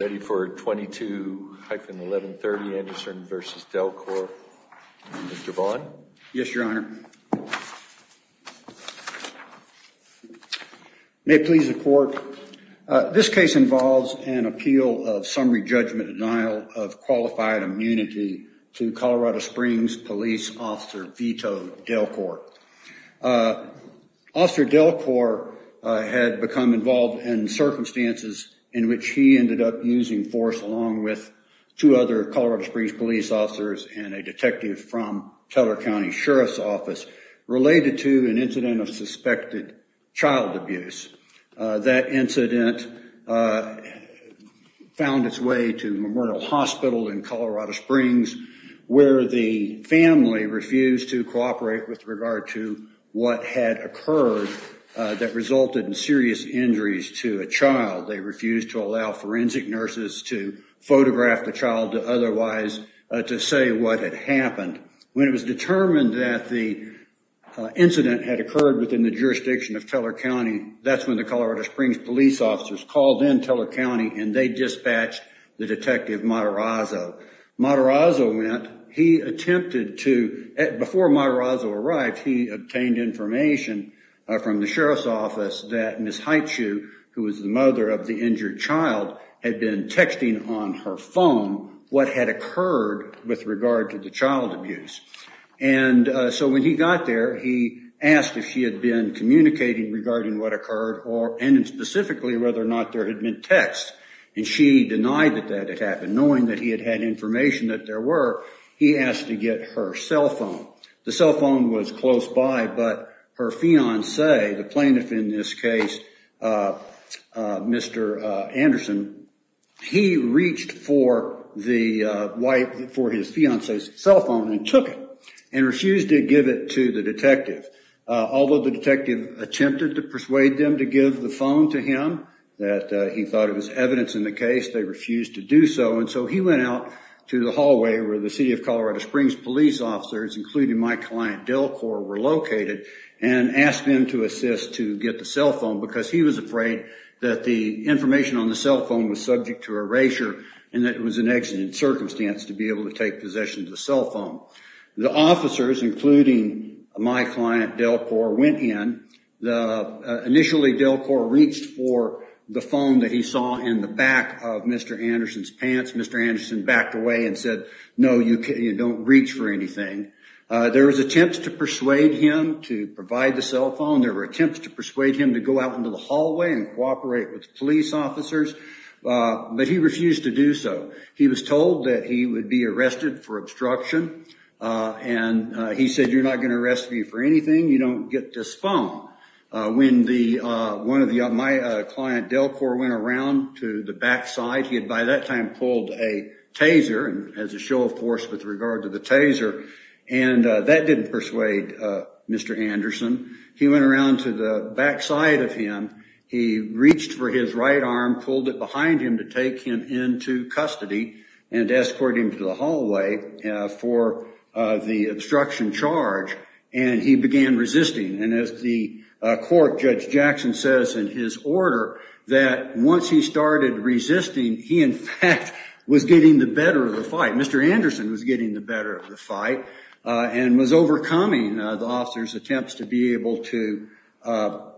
ready for 22-1130 Anderson v. DelCore. Mr. Vaughn? Yes, Your Honor. May it please the court. This case involves an appeal of summary judgment denial of qualified immunity to Colorado Springs Police Officer Vito DelCore. Officer DelCore had become involved in circumstances in which he ended up using force along with two other Colorado Springs police officers and a detective from Teller County Sheriff's Office related to an incident of suspected child abuse. That incident found its way to Memorial Hospital in Colorado Springs where the family refused to allow forensic nurses to photograph the child to otherwise to say what had happened. When it was determined that the incident had occurred within the jurisdiction of Teller County, that's when the Colorado Springs police officers called in Teller County and they dispatched the detective Matarazzo. Matarazzo went, he attempted to, before Matarazzo arrived, he obtained information from the Sheriff's Office that Ms. Haichu, who was the mother of the injured child, had been texting on her phone what had occurred with regard to the child abuse. And so when he got there, he asked if she had been communicating regarding what occurred or, and specifically, whether or not there had been texts. And she denied that that had happened, knowing that he had had information that there were. He asked to get her cell phone. The cell phone was close by, but her fiance, the plaintiff in this case, Mr. Anderson, he reached for the wife, for his fiance's cell phone and took it and refused to give it to the detective. Although the detective attempted to persuade them to give the phone to him, that he thought it was evidence in the Colorado Springs police officers, including my client DelCorp, were located and asked them to assist to get the cell phone because he was afraid that the information on the cell phone was subject to erasure and that it was an exigent circumstance to be able to take possession of the cell phone. The officers, including my client DelCorp, went in. Initially, DelCorp reached for the phone that he saw in the back of Mr. Anderson's pants. Mr. Anderson backed away and said, no, you don't reach for anything. There was attempts to persuade him to provide the cell phone. There were attempts to persuade him to go out into the hallway and cooperate with police officers, but he refused to do so. He was told that he would be arrested for obstruction. And he said, you're not going to arrest me for anything. You don't get this phone. When my client DelCorp went around to the back side, he had by that time pulled a taser, and as a show of force with regard to the taser, and that didn't persuade Mr. Anderson. He went around to the back side of him. He reached for his right arm, pulled it behind him to take him into custody and escort him to the hallway for the obstruction charge. And he began resisting. And as the court Judge Jackson says in his order, that once he started resisting, he in fact was getting the better of the fight. Mr. Anderson was getting the better of the fight and was overcoming the officer's attempts to be able to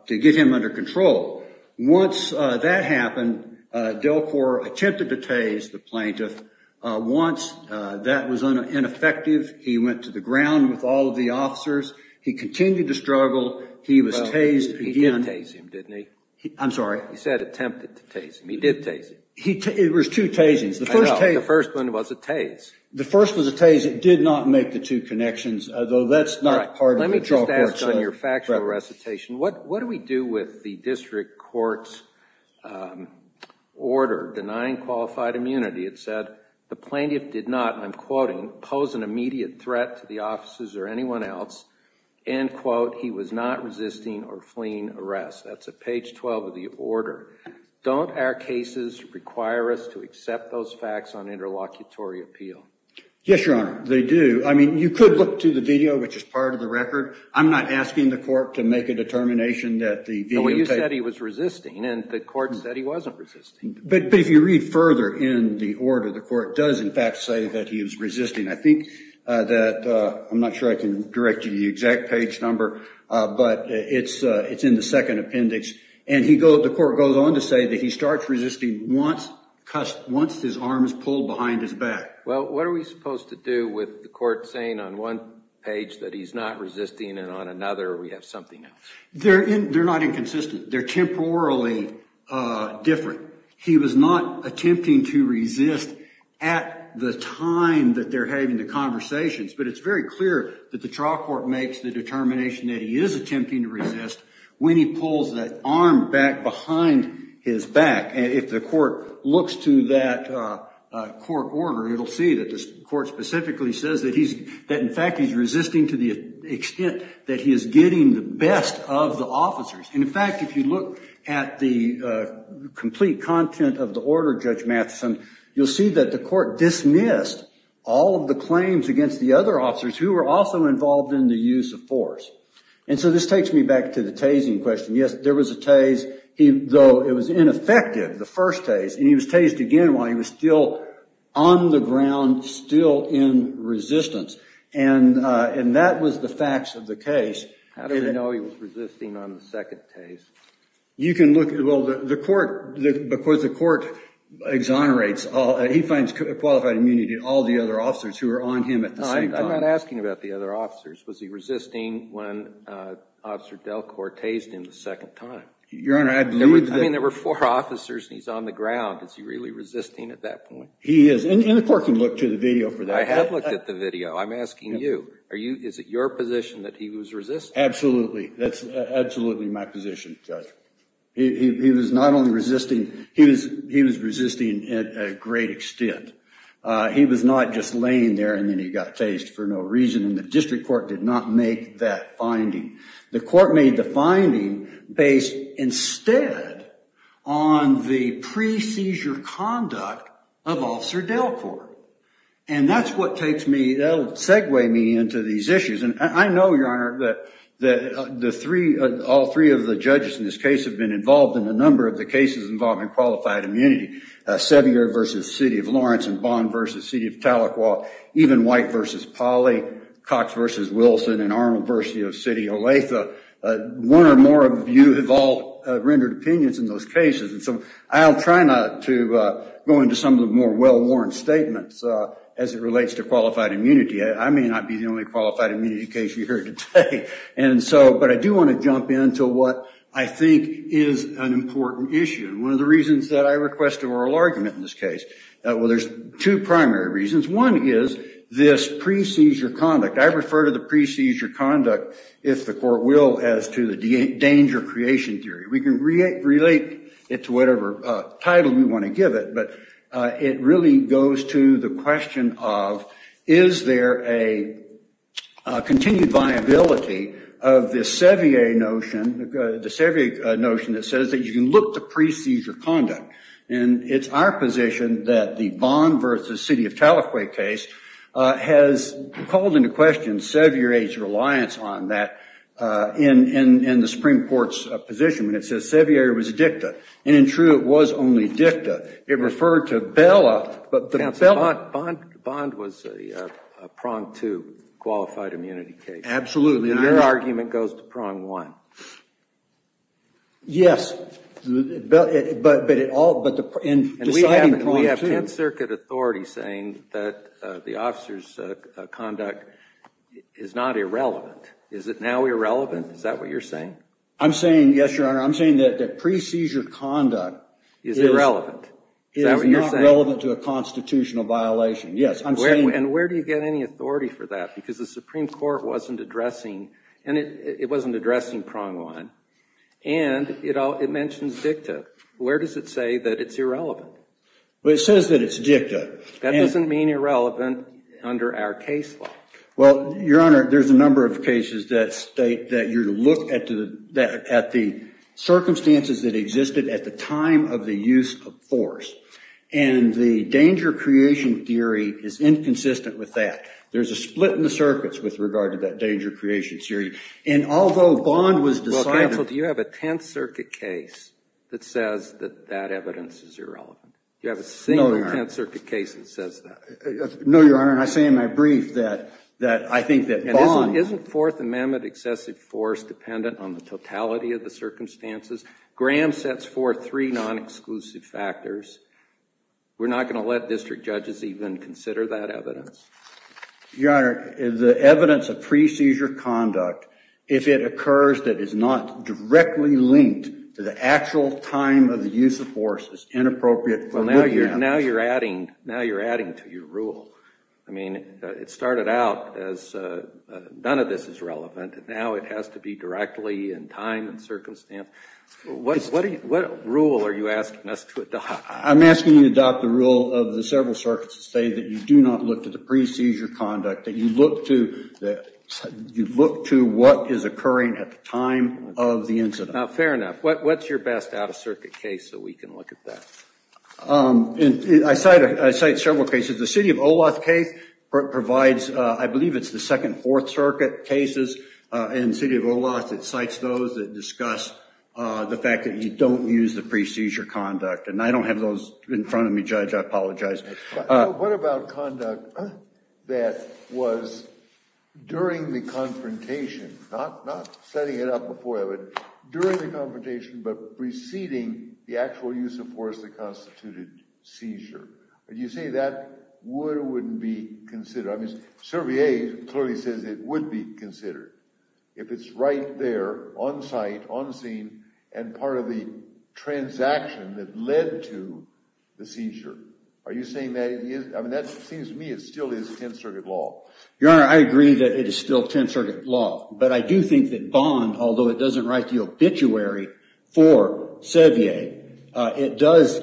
get him under control. Once that happened, DelCorp attempted to tase the plaintiff. Once that was ineffective, he went to the ground with all of the officers. He continued to struggle. He was tased again. He did tase him, didn't he? I'm sorry. He said attempted to tase him. He did tase him. It was two tasings. The first one was a tase. The first was a tase. It did not make the two connections, though that's not part of the drug court's- Let me just ask on your factual recitation, what do we do with the district court's order denying qualified immunity? It said the plaintiff did not, and I'm quoting, pose an immediate threat to the officers or anyone else. And quote, he was not resisting or fleeing arrest. That's at page 12 of the order. Don't our cases require us to accept those facts on interlocutory appeal? Yes, Your Honor, they do. I mean, you could look to the video, which is part of the record. I'm not asking the court to make a determination that the video- Well, you said he was resisting and the court said he wasn't resisting. But if you read further in the order, the court does, in fact, say that he was resisting. I think that- I'm not sure I can direct you to the exact page number, but it's in the second appendix. And the court goes on to say that he starts resisting once his arm is pulled behind his back. Well, what are we supposed to do with the court saying on one page that he's not resisting and on another we have something else? They're not inconsistent. They're temporarily different. He was not attempting to resist at the time that they're having the conversations. But it's very clear that the trial court makes the determination that he is attempting to resist when he pulls that arm back behind his back. And if the court looks to that court order, it'll see that the court specifically says that he's- And in fact, if you look at the complete content of the order, Judge Matheson, you'll see that the court dismissed all of the claims against the other officers who were also involved in the use of force. And so this takes me back to the tasing question. Yes, there was a tase, though it was ineffective, the first tase. And he was tased again while he was still on the ground, still in resistance. And that was the facts of the case. How do we know he was resisting on the second tase? You can look at- Well, the court, because the court exonerates all- He finds qualified immunity in all the other officers who were on him at the same time. I'm not asking about the other officers. Was he resisting when Officer Delcourt tased him the second time? Your Honor, I believe that- I mean, there were four officers and he's on the ground. Is he really resisting at that point? He is. And the court can look to the video for that. I have looked at the video. I'm asking you. Is it your position that he was resisting? Absolutely. That's absolutely my position, Judge. He was not only resisting, he was resisting at a great extent. He was not just laying there and then he got tased for no reason. And the district court did not make that finding. The court made the finding based instead on the pre-seizure conduct of Officer Delcourt. And that's what takes me- That'll segue me into these issues. And I know, Your Honor, that the three- All three of the judges in this case have been involved in a number of the cases involving qualified immunity. Sevier v. City of Lawrence and Bond v. City of Tahlequah. Even White v. Pauley, Cox v. Wilson and Arnold v. City of Olathe. One or more of you have all rendered opinions in those cases. I'll try not to go into some of the more well-worn statements as it relates to qualified immunity. I may not be the only qualified immunity case you hear today. And so, but I do want to jump into what I think is an important issue. One of the reasons that I request a oral argument in this case. Well, there's two primary reasons. One is this pre-seizure conduct. I refer to the pre-seizure conduct, if the court will, as to the danger creation theory. We can relate it to whatever title we want to give it. But it really goes to the question of, is there a continued viability of this Sevier notion? The Sevier notion that says that you can look to pre-seizure conduct. And it's our position that the Bond v. City of Tahlequah case has called into question Sevier's reliance on that in the Supreme Court's position. And it says Sevier was dicta. And in true, it was only dicta. It referred to Bella. But the Bella. Bond was a pronged to qualified immunity case. Absolutely. And your argument goes to prong one. Yes, but in deciding prong two. We have 10th Circuit authority saying that the officer's conduct is not irrelevant. Is it now irrelevant? Is that what you're saying? I'm saying, yes, Your Honor. I'm saying that pre-seizure conduct is not relevant to a constitutional violation. Yes, I'm saying. And where do you get any authority for that? Because the Supreme Court wasn't addressing prong one. And it mentions dicta. Where does it say that it's irrelevant? Well, it says that it's dicta. That doesn't mean irrelevant under our case law. Well, Your Honor, there's a number of cases that state that you look at the circumstances that existed at the time of the use of force. And the danger creation theory is inconsistent with that. There's a split in the circuits with regard to that danger creation theory. And although Bond was deciding. Well, counsel, do you have a 10th Circuit case that says that that evidence is irrelevant? Do you have a single 10th Circuit case that says that? No, Your Honor. And I say in my brief that I think that Bond. Isn't Fourth Amendment excessive force dependent on the totality of the circumstances? Graham sets forth three non-exclusive factors. We're not going to let district judges even consider that evidence. Your Honor, the evidence of pre-seizure conduct, if it occurs that it's not directly linked to the actual time of the use of force, is inappropriate for looking at it. Now you're adding to your rule. I mean, it started out as none of this is relevant. Now it has to be directly in time and circumstance. What rule are you asking us to adopt? I'm asking you to adopt the rule of the several circuits that say that you do not look at the pre-seizure conduct, that you look to what is occurring at the time of the incident. Now, fair enough. What's your best out-of-circuit case so we can look at that? I cite several cases. The City of Olath case provides, I believe it's the Second Fourth Circuit cases. And City of Olath, it cites those that discuss the fact that you don't use the pre-seizure conduct. And I don't have those in front of me, Judge. I apologize. What about conduct that was during the confrontation, not setting it up before, but during confrontation, but preceding the actual use of force that constituted seizure? Would you say that would or wouldn't be considered? I mean, Cervier clearly says it would be considered if it's right there on site, on scene, and part of the transaction that led to the seizure. Are you saying that it is? I mean, that seems to me it still is 10th Circuit law. Your Honor, I agree that it is still 10th Circuit law. But I do think that Bond, although it doesn't write the obituary for Cervier, it does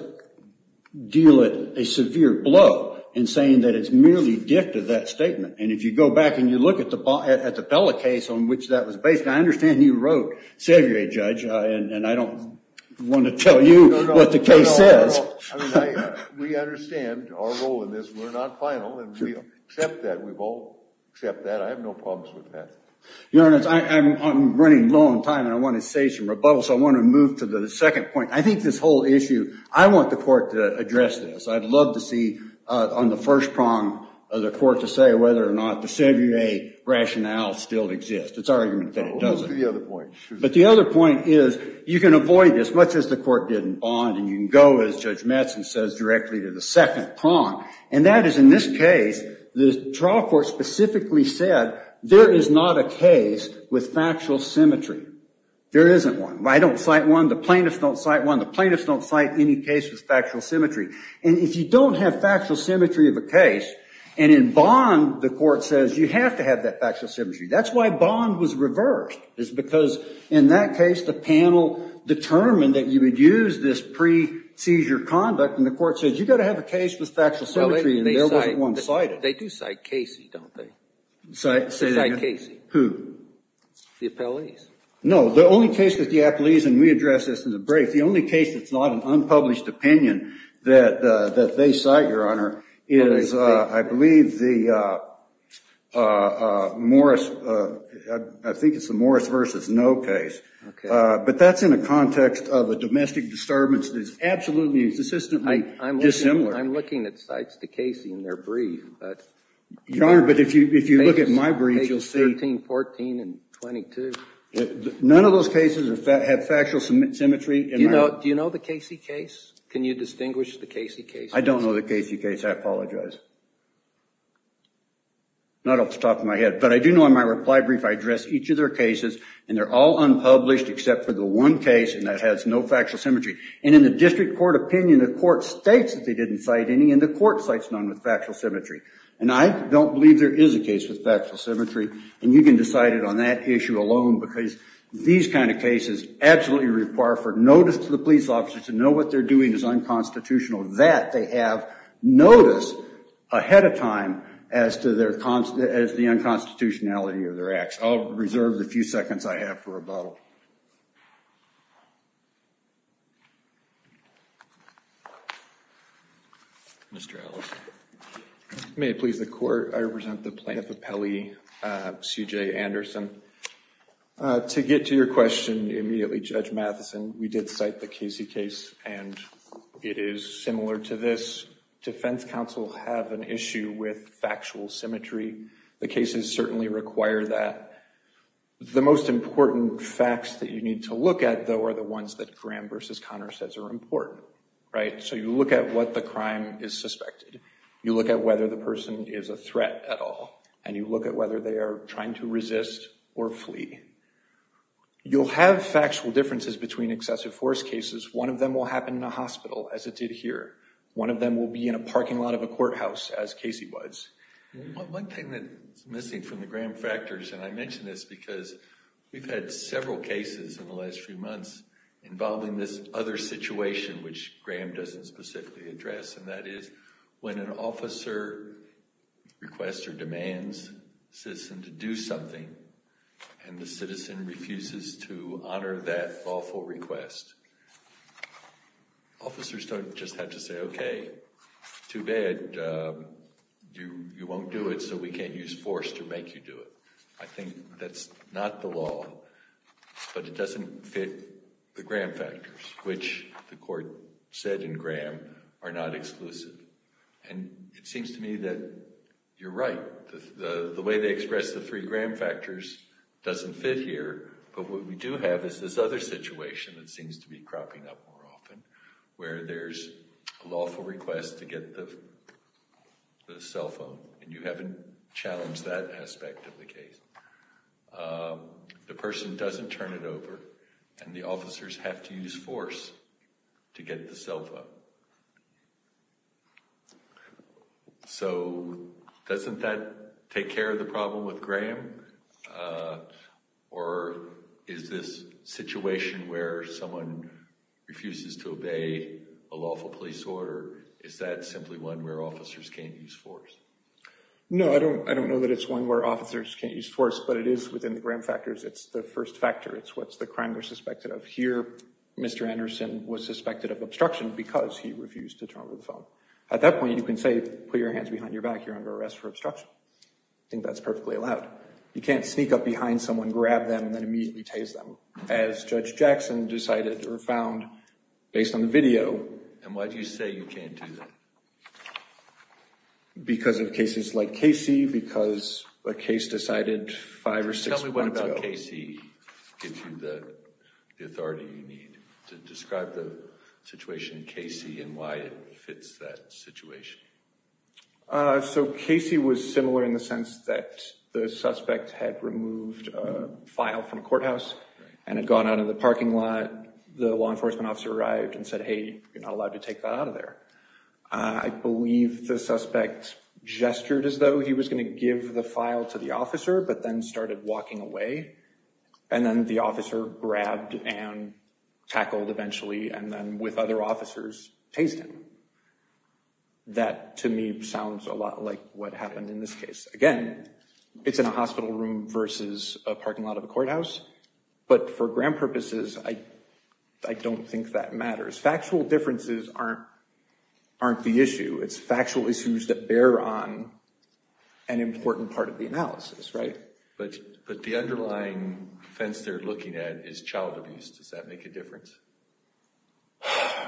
deal it a severe blow in saying that it's merely gift of that statement. And if you go back and you look at the Bella case on which that was based, I understand you wrote Cervier, Judge, and I don't want to tell you what the case says. No, no. We understand our role in this. We're not final. And we accept that. We've all accepted that. I have no problems with that. Your Honor, I'm running low on time. And I want to say some rebuttals. I want to move to the second point. I think this whole issue, I want the court to address this. I'd love to see on the first prong of the court to say whether or not the Cervier rationale still exists. It's our argument that it doesn't. We'll move to the other point. But the other point is you can avoid this, much as the court did in Bond. And you can go, as Judge Metz has said, directly to the second prong. And that is, in this case, the trial court specifically said, there is not a case with factual symmetry. There isn't one. I don't cite one. The plaintiffs don't cite one. The plaintiffs don't cite any case with factual symmetry. And if you don't have factual symmetry of a case, and in Bond, the court says, you have to have that factual symmetry. That's why Bond was reversed, is because in that case, the panel determined that you would use this pre-seizure conduct. And the court says, you've got to have a case with factual symmetry. And there wasn't one cited. They do cite Casey, don't they? They cite Casey. Who? The appellees. No, the only case that the appellees, and we address this in the brief, the only case that's not an unpublished opinion that they cite, Your Honor, is, I believe, the Morris, I think it's the Morris versus no case. But that's in the context of a domestic disturbance that is absolutely and consistently dissimilar. I'm looking at cites to Casey in their brief, but Your Honor, but if you look at my brief, you'll see 13, 14, and 22. None of those cases have factual symmetry. Do you know the Casey case? Can you distinguish the Casey case? I don't know the Casey case. I apologize. Not off the top of my head. But I do know in my reply brief, I address each of their cases, and they're all unpublished, except for the one case, and that has no factual symmetry. And in the district court opinion, the court states that they didn't cite any, and the court cites none with factual symmetry. And I don't believe there is a case with factual symmetry. And you can decide it on that issue alone, because these kind of cases absolutely require for notice to the police officers to know what they're doing is unconstitutional, that they have notice ahead of time as to the unconstitutionality of their acts. I'll reserve the few seconds I have for rebuttal. Mr. Ellis. May it please the court. I represent the plaintiff, Apelli C.J. Anderson. To get to your question immediately, Judge Matheson, we did cite the Casey case, and it is similar to this. Defense counsel have an issue with factual symmetry. The cases certainly require that. The most important facts that you need to look at, though, are the ones that Graham versus Conner says are important, right? So you look at what the crime is suspected. You look at whether the person is a threat at all, and you look at whether they are trying to resist or flee. You'll have factual differences between excessive force cases. One of them will happen in a hospital, as it did here. One of them will be in a parking lot of a courthouse, as Casey was. One thing that's missing from the Graham factors, and I mention this because we've had several cases in the last few months involving this other situation, which Graham doesn't specifically address, and that is when an officer requests or demands a citizen to do something, and the citizen refuses to honor that lawful request. Officers don't just have to say, okay, too bad, you won't do it, so we can't use force to make you do it. I think that's not the law, but it doesn't fit the Graham factors, which the court said in Graham are not exclusive. And it seems to me that you're right. The way they express the three Graham factors doesn't fit here, but what we do have is this other situation that seems to be cropping up more often, where there's a lawful request to get the cell phone, and you haven't challenged that aspect of the case. The person doesn't turn it over, and the officers have to use force to get the cell phone. So doesn't that take care of the problem with Graham, or is this situation where someone refuses to obey a lawful police order, is that simply one where officers can't use force? No, I don't know that it's one where officers can't use force, but it is within the Graham factors. It's the first factor. It's what's the crime they're suspected of. He refuses to turn over the phone. At that point, you can say, put your hands behind your back. You're under arrest for obstruction. I think that's perfectly allowed. You can't sneak up behind someone, grab them, and then immediately tase them, as Judge Jackson decided or found based on the video. And why do you say you can't do that? Because of cases like Casey, because a case decided five or six months ago. Casey gives you the authority you need to describe the situation in Casey and why it fits that situation. So Casey was similar in the sense that the suspect had removed a file from a courthouse and had gone out of the parking lot. The law enforcement officer arrived and said, hey, you're not allowed to take that out of there. I believe the suspect gestured as though he was going to give the file to the officer, but then started walking away. And then the officer grabbed and tackled eventually, and then with other officers, tased him. That, to me, sounds a lot like what happened in this case. Again, it's in a hospital room versus a parking lot of a courthouse. But for grand purposes, I don't think that matters. Factual differences aren't the issue. But the underlying offense they're looking at is child abuse. Does that make a difference?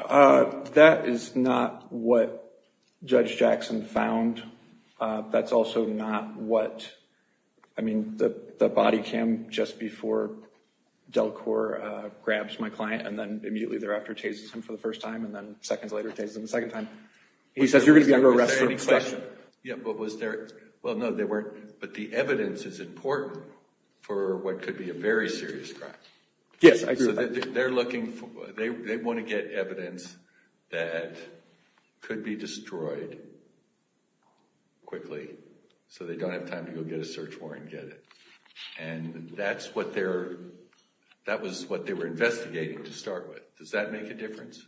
That is not what Judge Jackson found. That's also not what, I mean, the body cam just before Delcor grabs my client and then immediately thereafter tases him for the first time and then seconds later tases him the second time. He says, you're going to be under arrest for any question. Yeah, but was there, well, no, there weren't. But the evidence is important for what could be a very serious crime. Yes, I agree. They're looking for, they want to get evidence that could be destroyed quickly so they don't have time to go get a search warrant and get it. And that's what they're, that was what they were investigating to start with. Does that make a difference?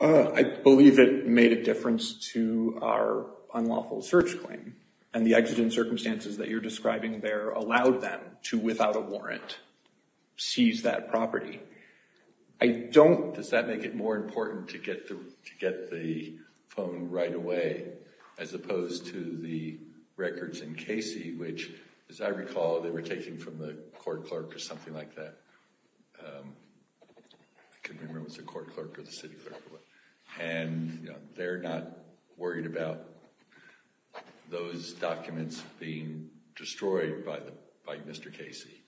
Uh, I believe it made a difference to our unlawful search claim. And the exigent circumstances that you're describing there allowed them to, without a warrant, seize that property. I don't, does that make it more important to get the phone right away as opposed to the records in Casey, which, as I recall, they were taking from the court clerk or something like that. I can't remember if it was the court clerk or the city clerk. And they're not worried about those documents being destroyed by Mr. Casey.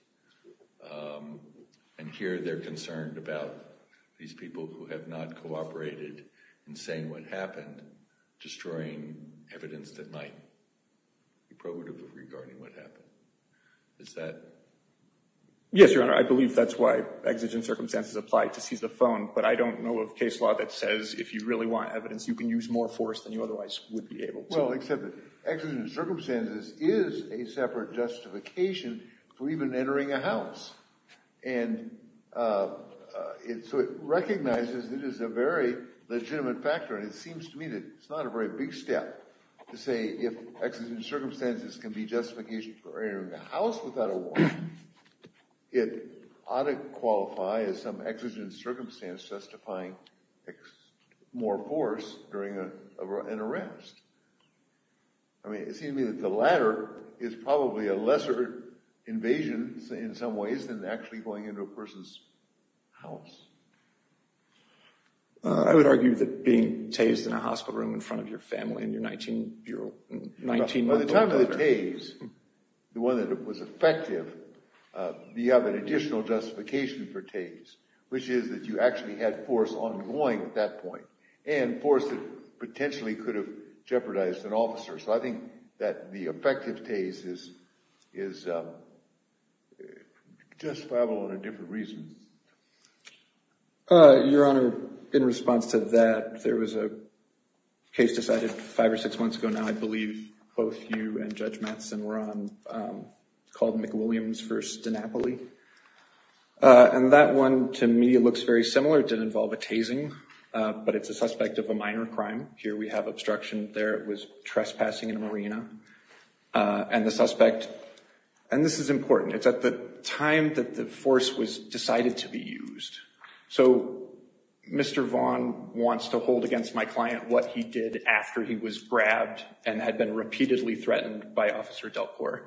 And here they're concerned about these people who have not cooperated in saying what happened, destroying evidence that might be probative regarding what happened. Is that? Yes, Your Honor, I believe that's why exigent circumstances apply to seize the phone. But I don't know of case law that says if you really want evidence, you can use more force than you otherwise would be able to. Well, except that exigent circumstances is a separate justification for even entering a house. And so it recognizes it is a very legitimate factor. And it seems to me that it's not a very big step to say if exigent circumstances can be justified, it ought to qualify as some exigent circumstance justifying more force during an arrest. I mean, it seems to me that the latter is probably a lesser invasion in some ways than actually going into a person's house. I would argue that being tased in a hospital room in front of your family and your 19-year-old 19-year-old daughter. Tase, the one that was effective, you have an additional justification for tase, which is that you actually had force ongoing at that point and force that potentially could have jeopardized an officer. So I think that the effective tase is justifiable in a different reason. Your Honor, in response to that, there was a case decided five or six months ago now. I believe both you and Judge Matheson were on, called McWilliams v. DiNapoli. And that one, to me, looks very similar. It did involve a tasing, but it's a suspect of a minor crime. Here we have obstruction there. It was trespassing in a marina. And the suspect, and this is important, it's at the time that the force was decided to be used. So Mr. Vaughn wants to hold against my client what he did after he was grabbed and had been repeatedly threatened by Officer Delcourt.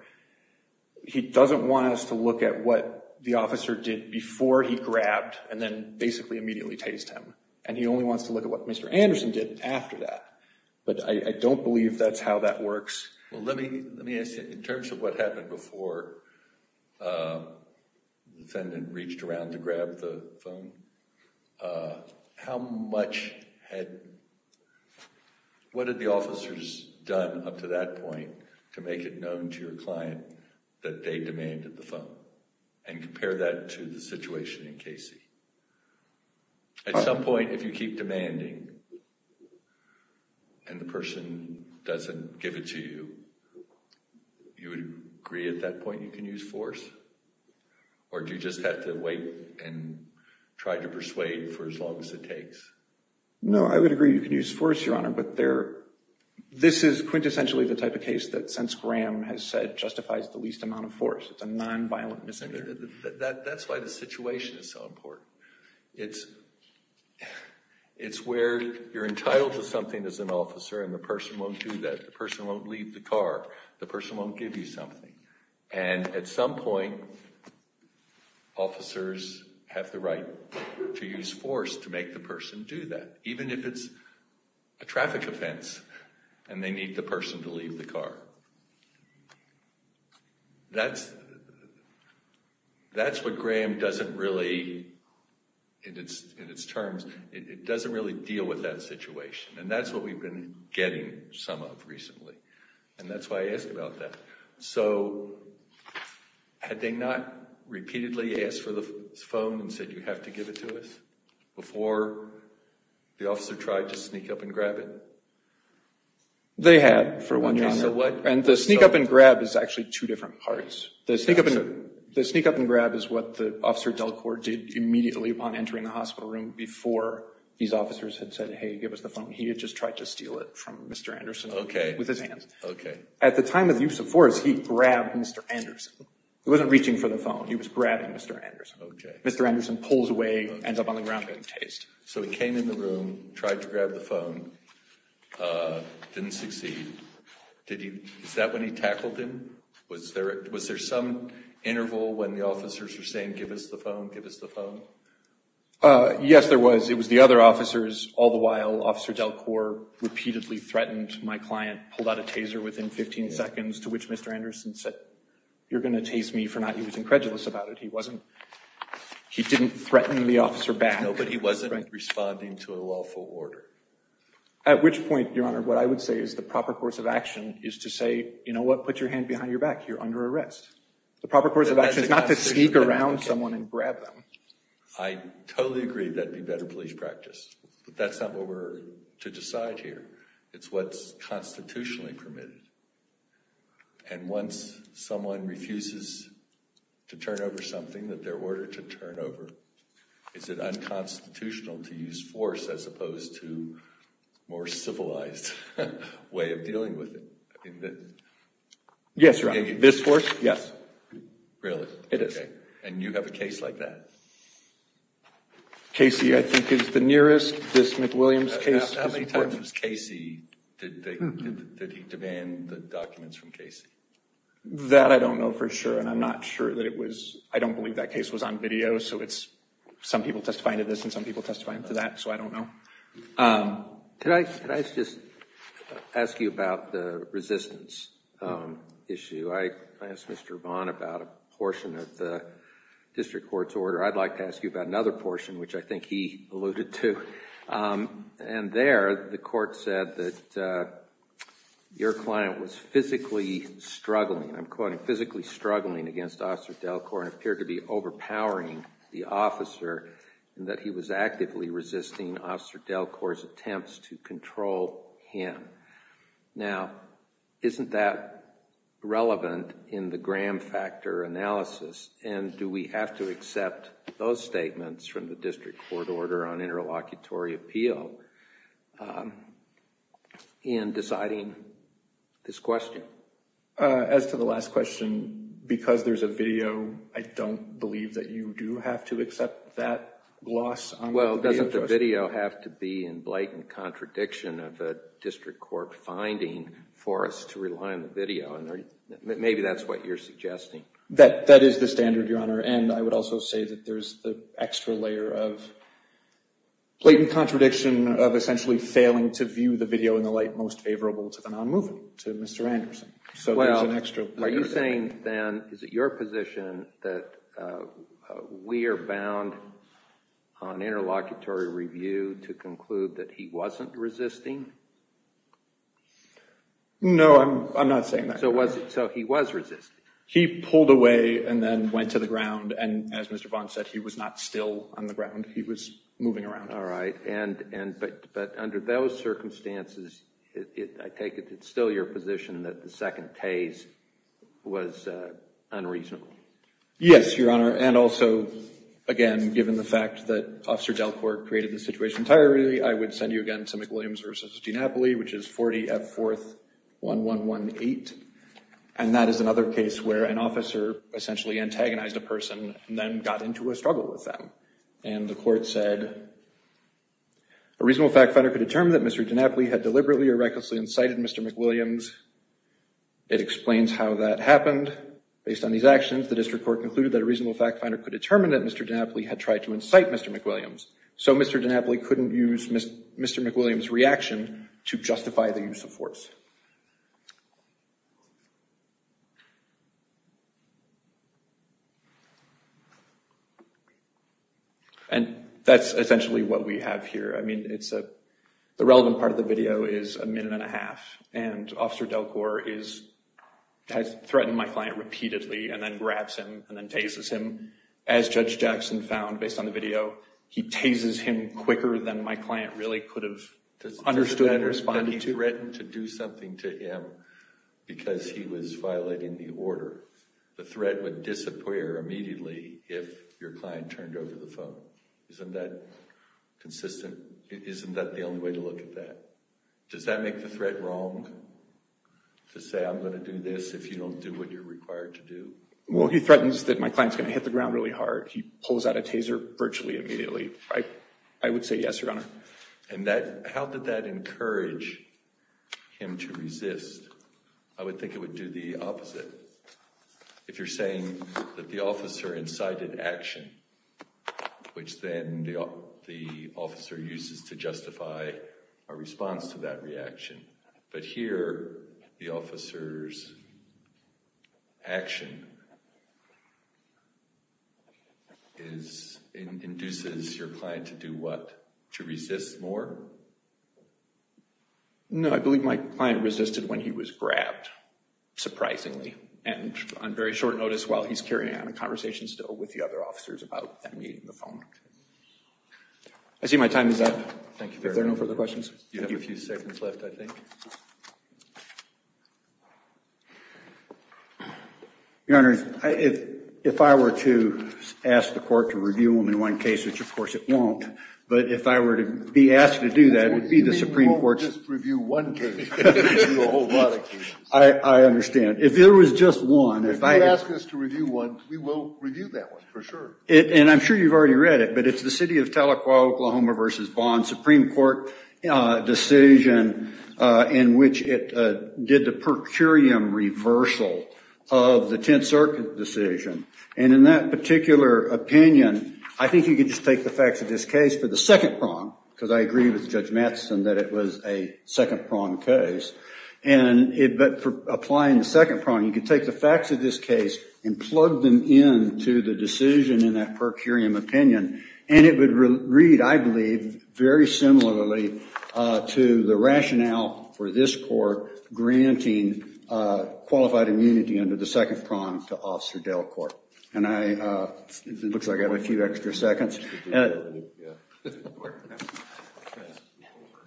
He doesn't want us to look at what the officer did before he grabbed and then basically immediately tased him. And he only wants to look at what Mr. Anderson did after that. But I don't believe that's how that works. Well, let me ask you, in terms of what happened before the defendant reached around to grab the phone, how much had, what had the officers done up to that point to make it known to your client that they demanded the phone? And compare that to the situation in Casey. At some point, if you keep demanding and the person doesn't give it to you, you would agree at that point you can use force? Or do you just have to wait and try to persuade for as long as it takes? No, I would agree you can use force, Your Honor. But this is quintessentially the type of case that, since Graham has said, justifies the least amount of force. It's a nonviolent misdemeanor. That's why the situation is so important. It's where you're entitled to something as an officer and the person won't do that. The person won't leave the car. The person won't give you something. And at some point, officers have the right to use force to make the person do that, even if it's a traffic offense and they need the person to leave the car. That's what Graham doesn't really, in its terms, it doesn't really deal with that situation. And that's what we've been getting some of recently. And that's why I asked about that. So had they not repeatedly asked for the phone and said, you have to give it to us before the officer tried to sneak up and grab it? They had for one year, Your Honor. And the sneak up and grab is actually two different parts. The sneak up and grab is what the officer Delcourt did immediately upon entering the hospital room before these officers had said, hey, give us the phone. He had just tried to steal it from Mr. Anderson with his hands. At the time of the use of force, he grabbed Mr. Anderson. He wasn't reaching for the phone. He was grabbing Mr. Anderson. Mr. Anderson pulls away, ends up on the ground getting tased. So he came in the room, tried to grab the phone, didn't succeed. Is that when he tackled him? Was there some interval when the officers were saying, give us the phone, give us the phone? Yes, there was. It was the other officers all the while. Officer Delcourt repeatedly threatened my client, pulled out a taser within 15 seconds, to which Mr. Anderson said, you're going to tase me for not. He was incredulous about it. He wasn't, he didn't threaten the officer back. No, but he wasn't responding to a lawful order. At which point, Your Honor, what I would say is the proper course of action is to say, you know what, put your hand behind your back. You're under arrest. The proper course of action is not to sneak around someone and grab them. I totally agree that it'd be better police practice, but that's not what we're to decide here. It's what's constitutionally permitted. And once someone refuses to turn over something that they're ordered to turn over, is it unconstitutional to use force as opposed to a more civilized way of dealing with it? Yes, Your Honor. This force? Yes. Really? It is. And you have a case like that? Casey, I think, is the nearest. This McWilliams case. How many times was Casey, did he demand the documents from Casey? That I don't know for sure, and I'm not sure that it was, I don't believe that case was on video, so it's, some people testifying to this and some people testifying to that, so I don't know. Could I just ask you about the resistance issue? I asked Mr. Vaughn about a portion of the district court's order. I'd like to ask you about another portion, which I think he alluded to. And there, the court said that your client was physically struggling, I'm quoting, physically struggling against Officer Delcourt, and appeared to be overpowering the officer, and that he was actively resisting Officer Delcourt's attempts to control him. Now, isn't that relevant in the Graham Factor analysis? And do we have to accept those statements from the district court order on interlocutory appeal in deciding this question? As to the last question, because there's a video, I don't believe that you do have to accept that loss. Well, doesn't the video have to be in blatant contradiction of a district court finding for us to rely on the video? Maybe that's what you're suggesting. That is the standard, Your Honor. And I would also say that there's the extra layer of blatant contradiction of essentially failing to view the video in the light most favorable to the non-moving, to Mr. Anderson. So there's an extra layer there. Are you saying, then, is it your position that we are bound on interlocutory review to conclude that he wasn't resisting? No, I'm not saying that. So he was resisting? He pulled away and then went to the ground. And as Mr. Vaughn said, he was not still on the ground. He was moving around. All right. But under those circumstances, I take it it's still your position that the second case was unreasonable? Yes, Your Honor. And also, again, given the fact that Officer Delcourt created the situation entirely, I would send you again to McWilliams v. G. Napoli, which is 40 F. 4th 1118. And that is another case where an officer essentially antagonized a person and then got into a struggle with them. And the court said, a reasonable fact finder could determine that Mr. DiNapoli had deliberately or recklessly incited Mr. McWilliams. It explains how that happened. Based on these actions, the district court concluded that a reasonable fact finder could determine that Mr. DiNapoli had tried to incite Mr. McWilliams. So Mr. DiNapoli couldn't use Mr. McWilliams' reaction to justify the use of force. And that's essentially what we have here. I mean, the relevant part of the video is a minute and a half. And Officer Delcourt has threatened my client repeatedly and then grabs him and then tases him. As Judge Jackson found based on the video, he tases him quicker than my client really could have understood and responded to. He threatened to do something to him because he was violating the order. The threat would disappear immediately if your client turned over the phone. Isn't that consistent? Isn't that the only way to look at that? Does that make the threat wrong to say, I'm going to do this if you don't do what you're required to do? Well, he threatens that my client's going to hit the ground really hard. I would say yes, Your Honor. And how did that encourage him to resist? I would think it would do the opposite. If you're saying that the officer incited action, which then the officer uses to justify a response to that reaction. But here, the officer's action induces your client to do what? To resist more? No, I believe my client resisted when he was grabbed, surprisingly. And on very short notice while he's carrying out a conversation still with the other officers about that meeting on the phone. I see my time is up. Thank you. Is there no further questions? You have a few seconds left, I think. Your Honor, if I were to ask the court to review them in one case, which of course it won't. But if I were to be asked to do that, it would be the Supreme Court's. We won't just review one case. I understand. If there was just one. If you ask us to review one, we will review that one for sure. And I'm sure you've already read it. But it's the city of Tahlequah, Oklahoma versus Vaughan Supreme Court. Decision in which it did the per curiam reversal of the Tenth Circuit decision. And in that particular opinion, I think you could just take the facts of this case for the second prong. Because I agree with Judge Matheson that it was a second prong case. But for applying the second prong, you could take the facts of this case and plug them into the decision in that per curiam opinion. And it would read, I believe, very similarly to the rationale for this court granting qualified immunity under the second prong to Officer Delcourt. And it looks like I have a few extra seconds.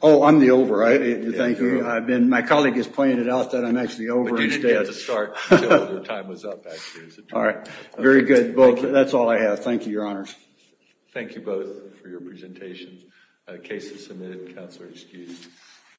Oh, I'm the over, right? Thank you. I've been. My colleague has pointed out that I'm actually over. But you didn't get to start until your time was up, actually. All right. Very good. Well, that's all I have. Thank you, Your Honors. Thank you both for your presentations. Cases submitted. Counselor excused.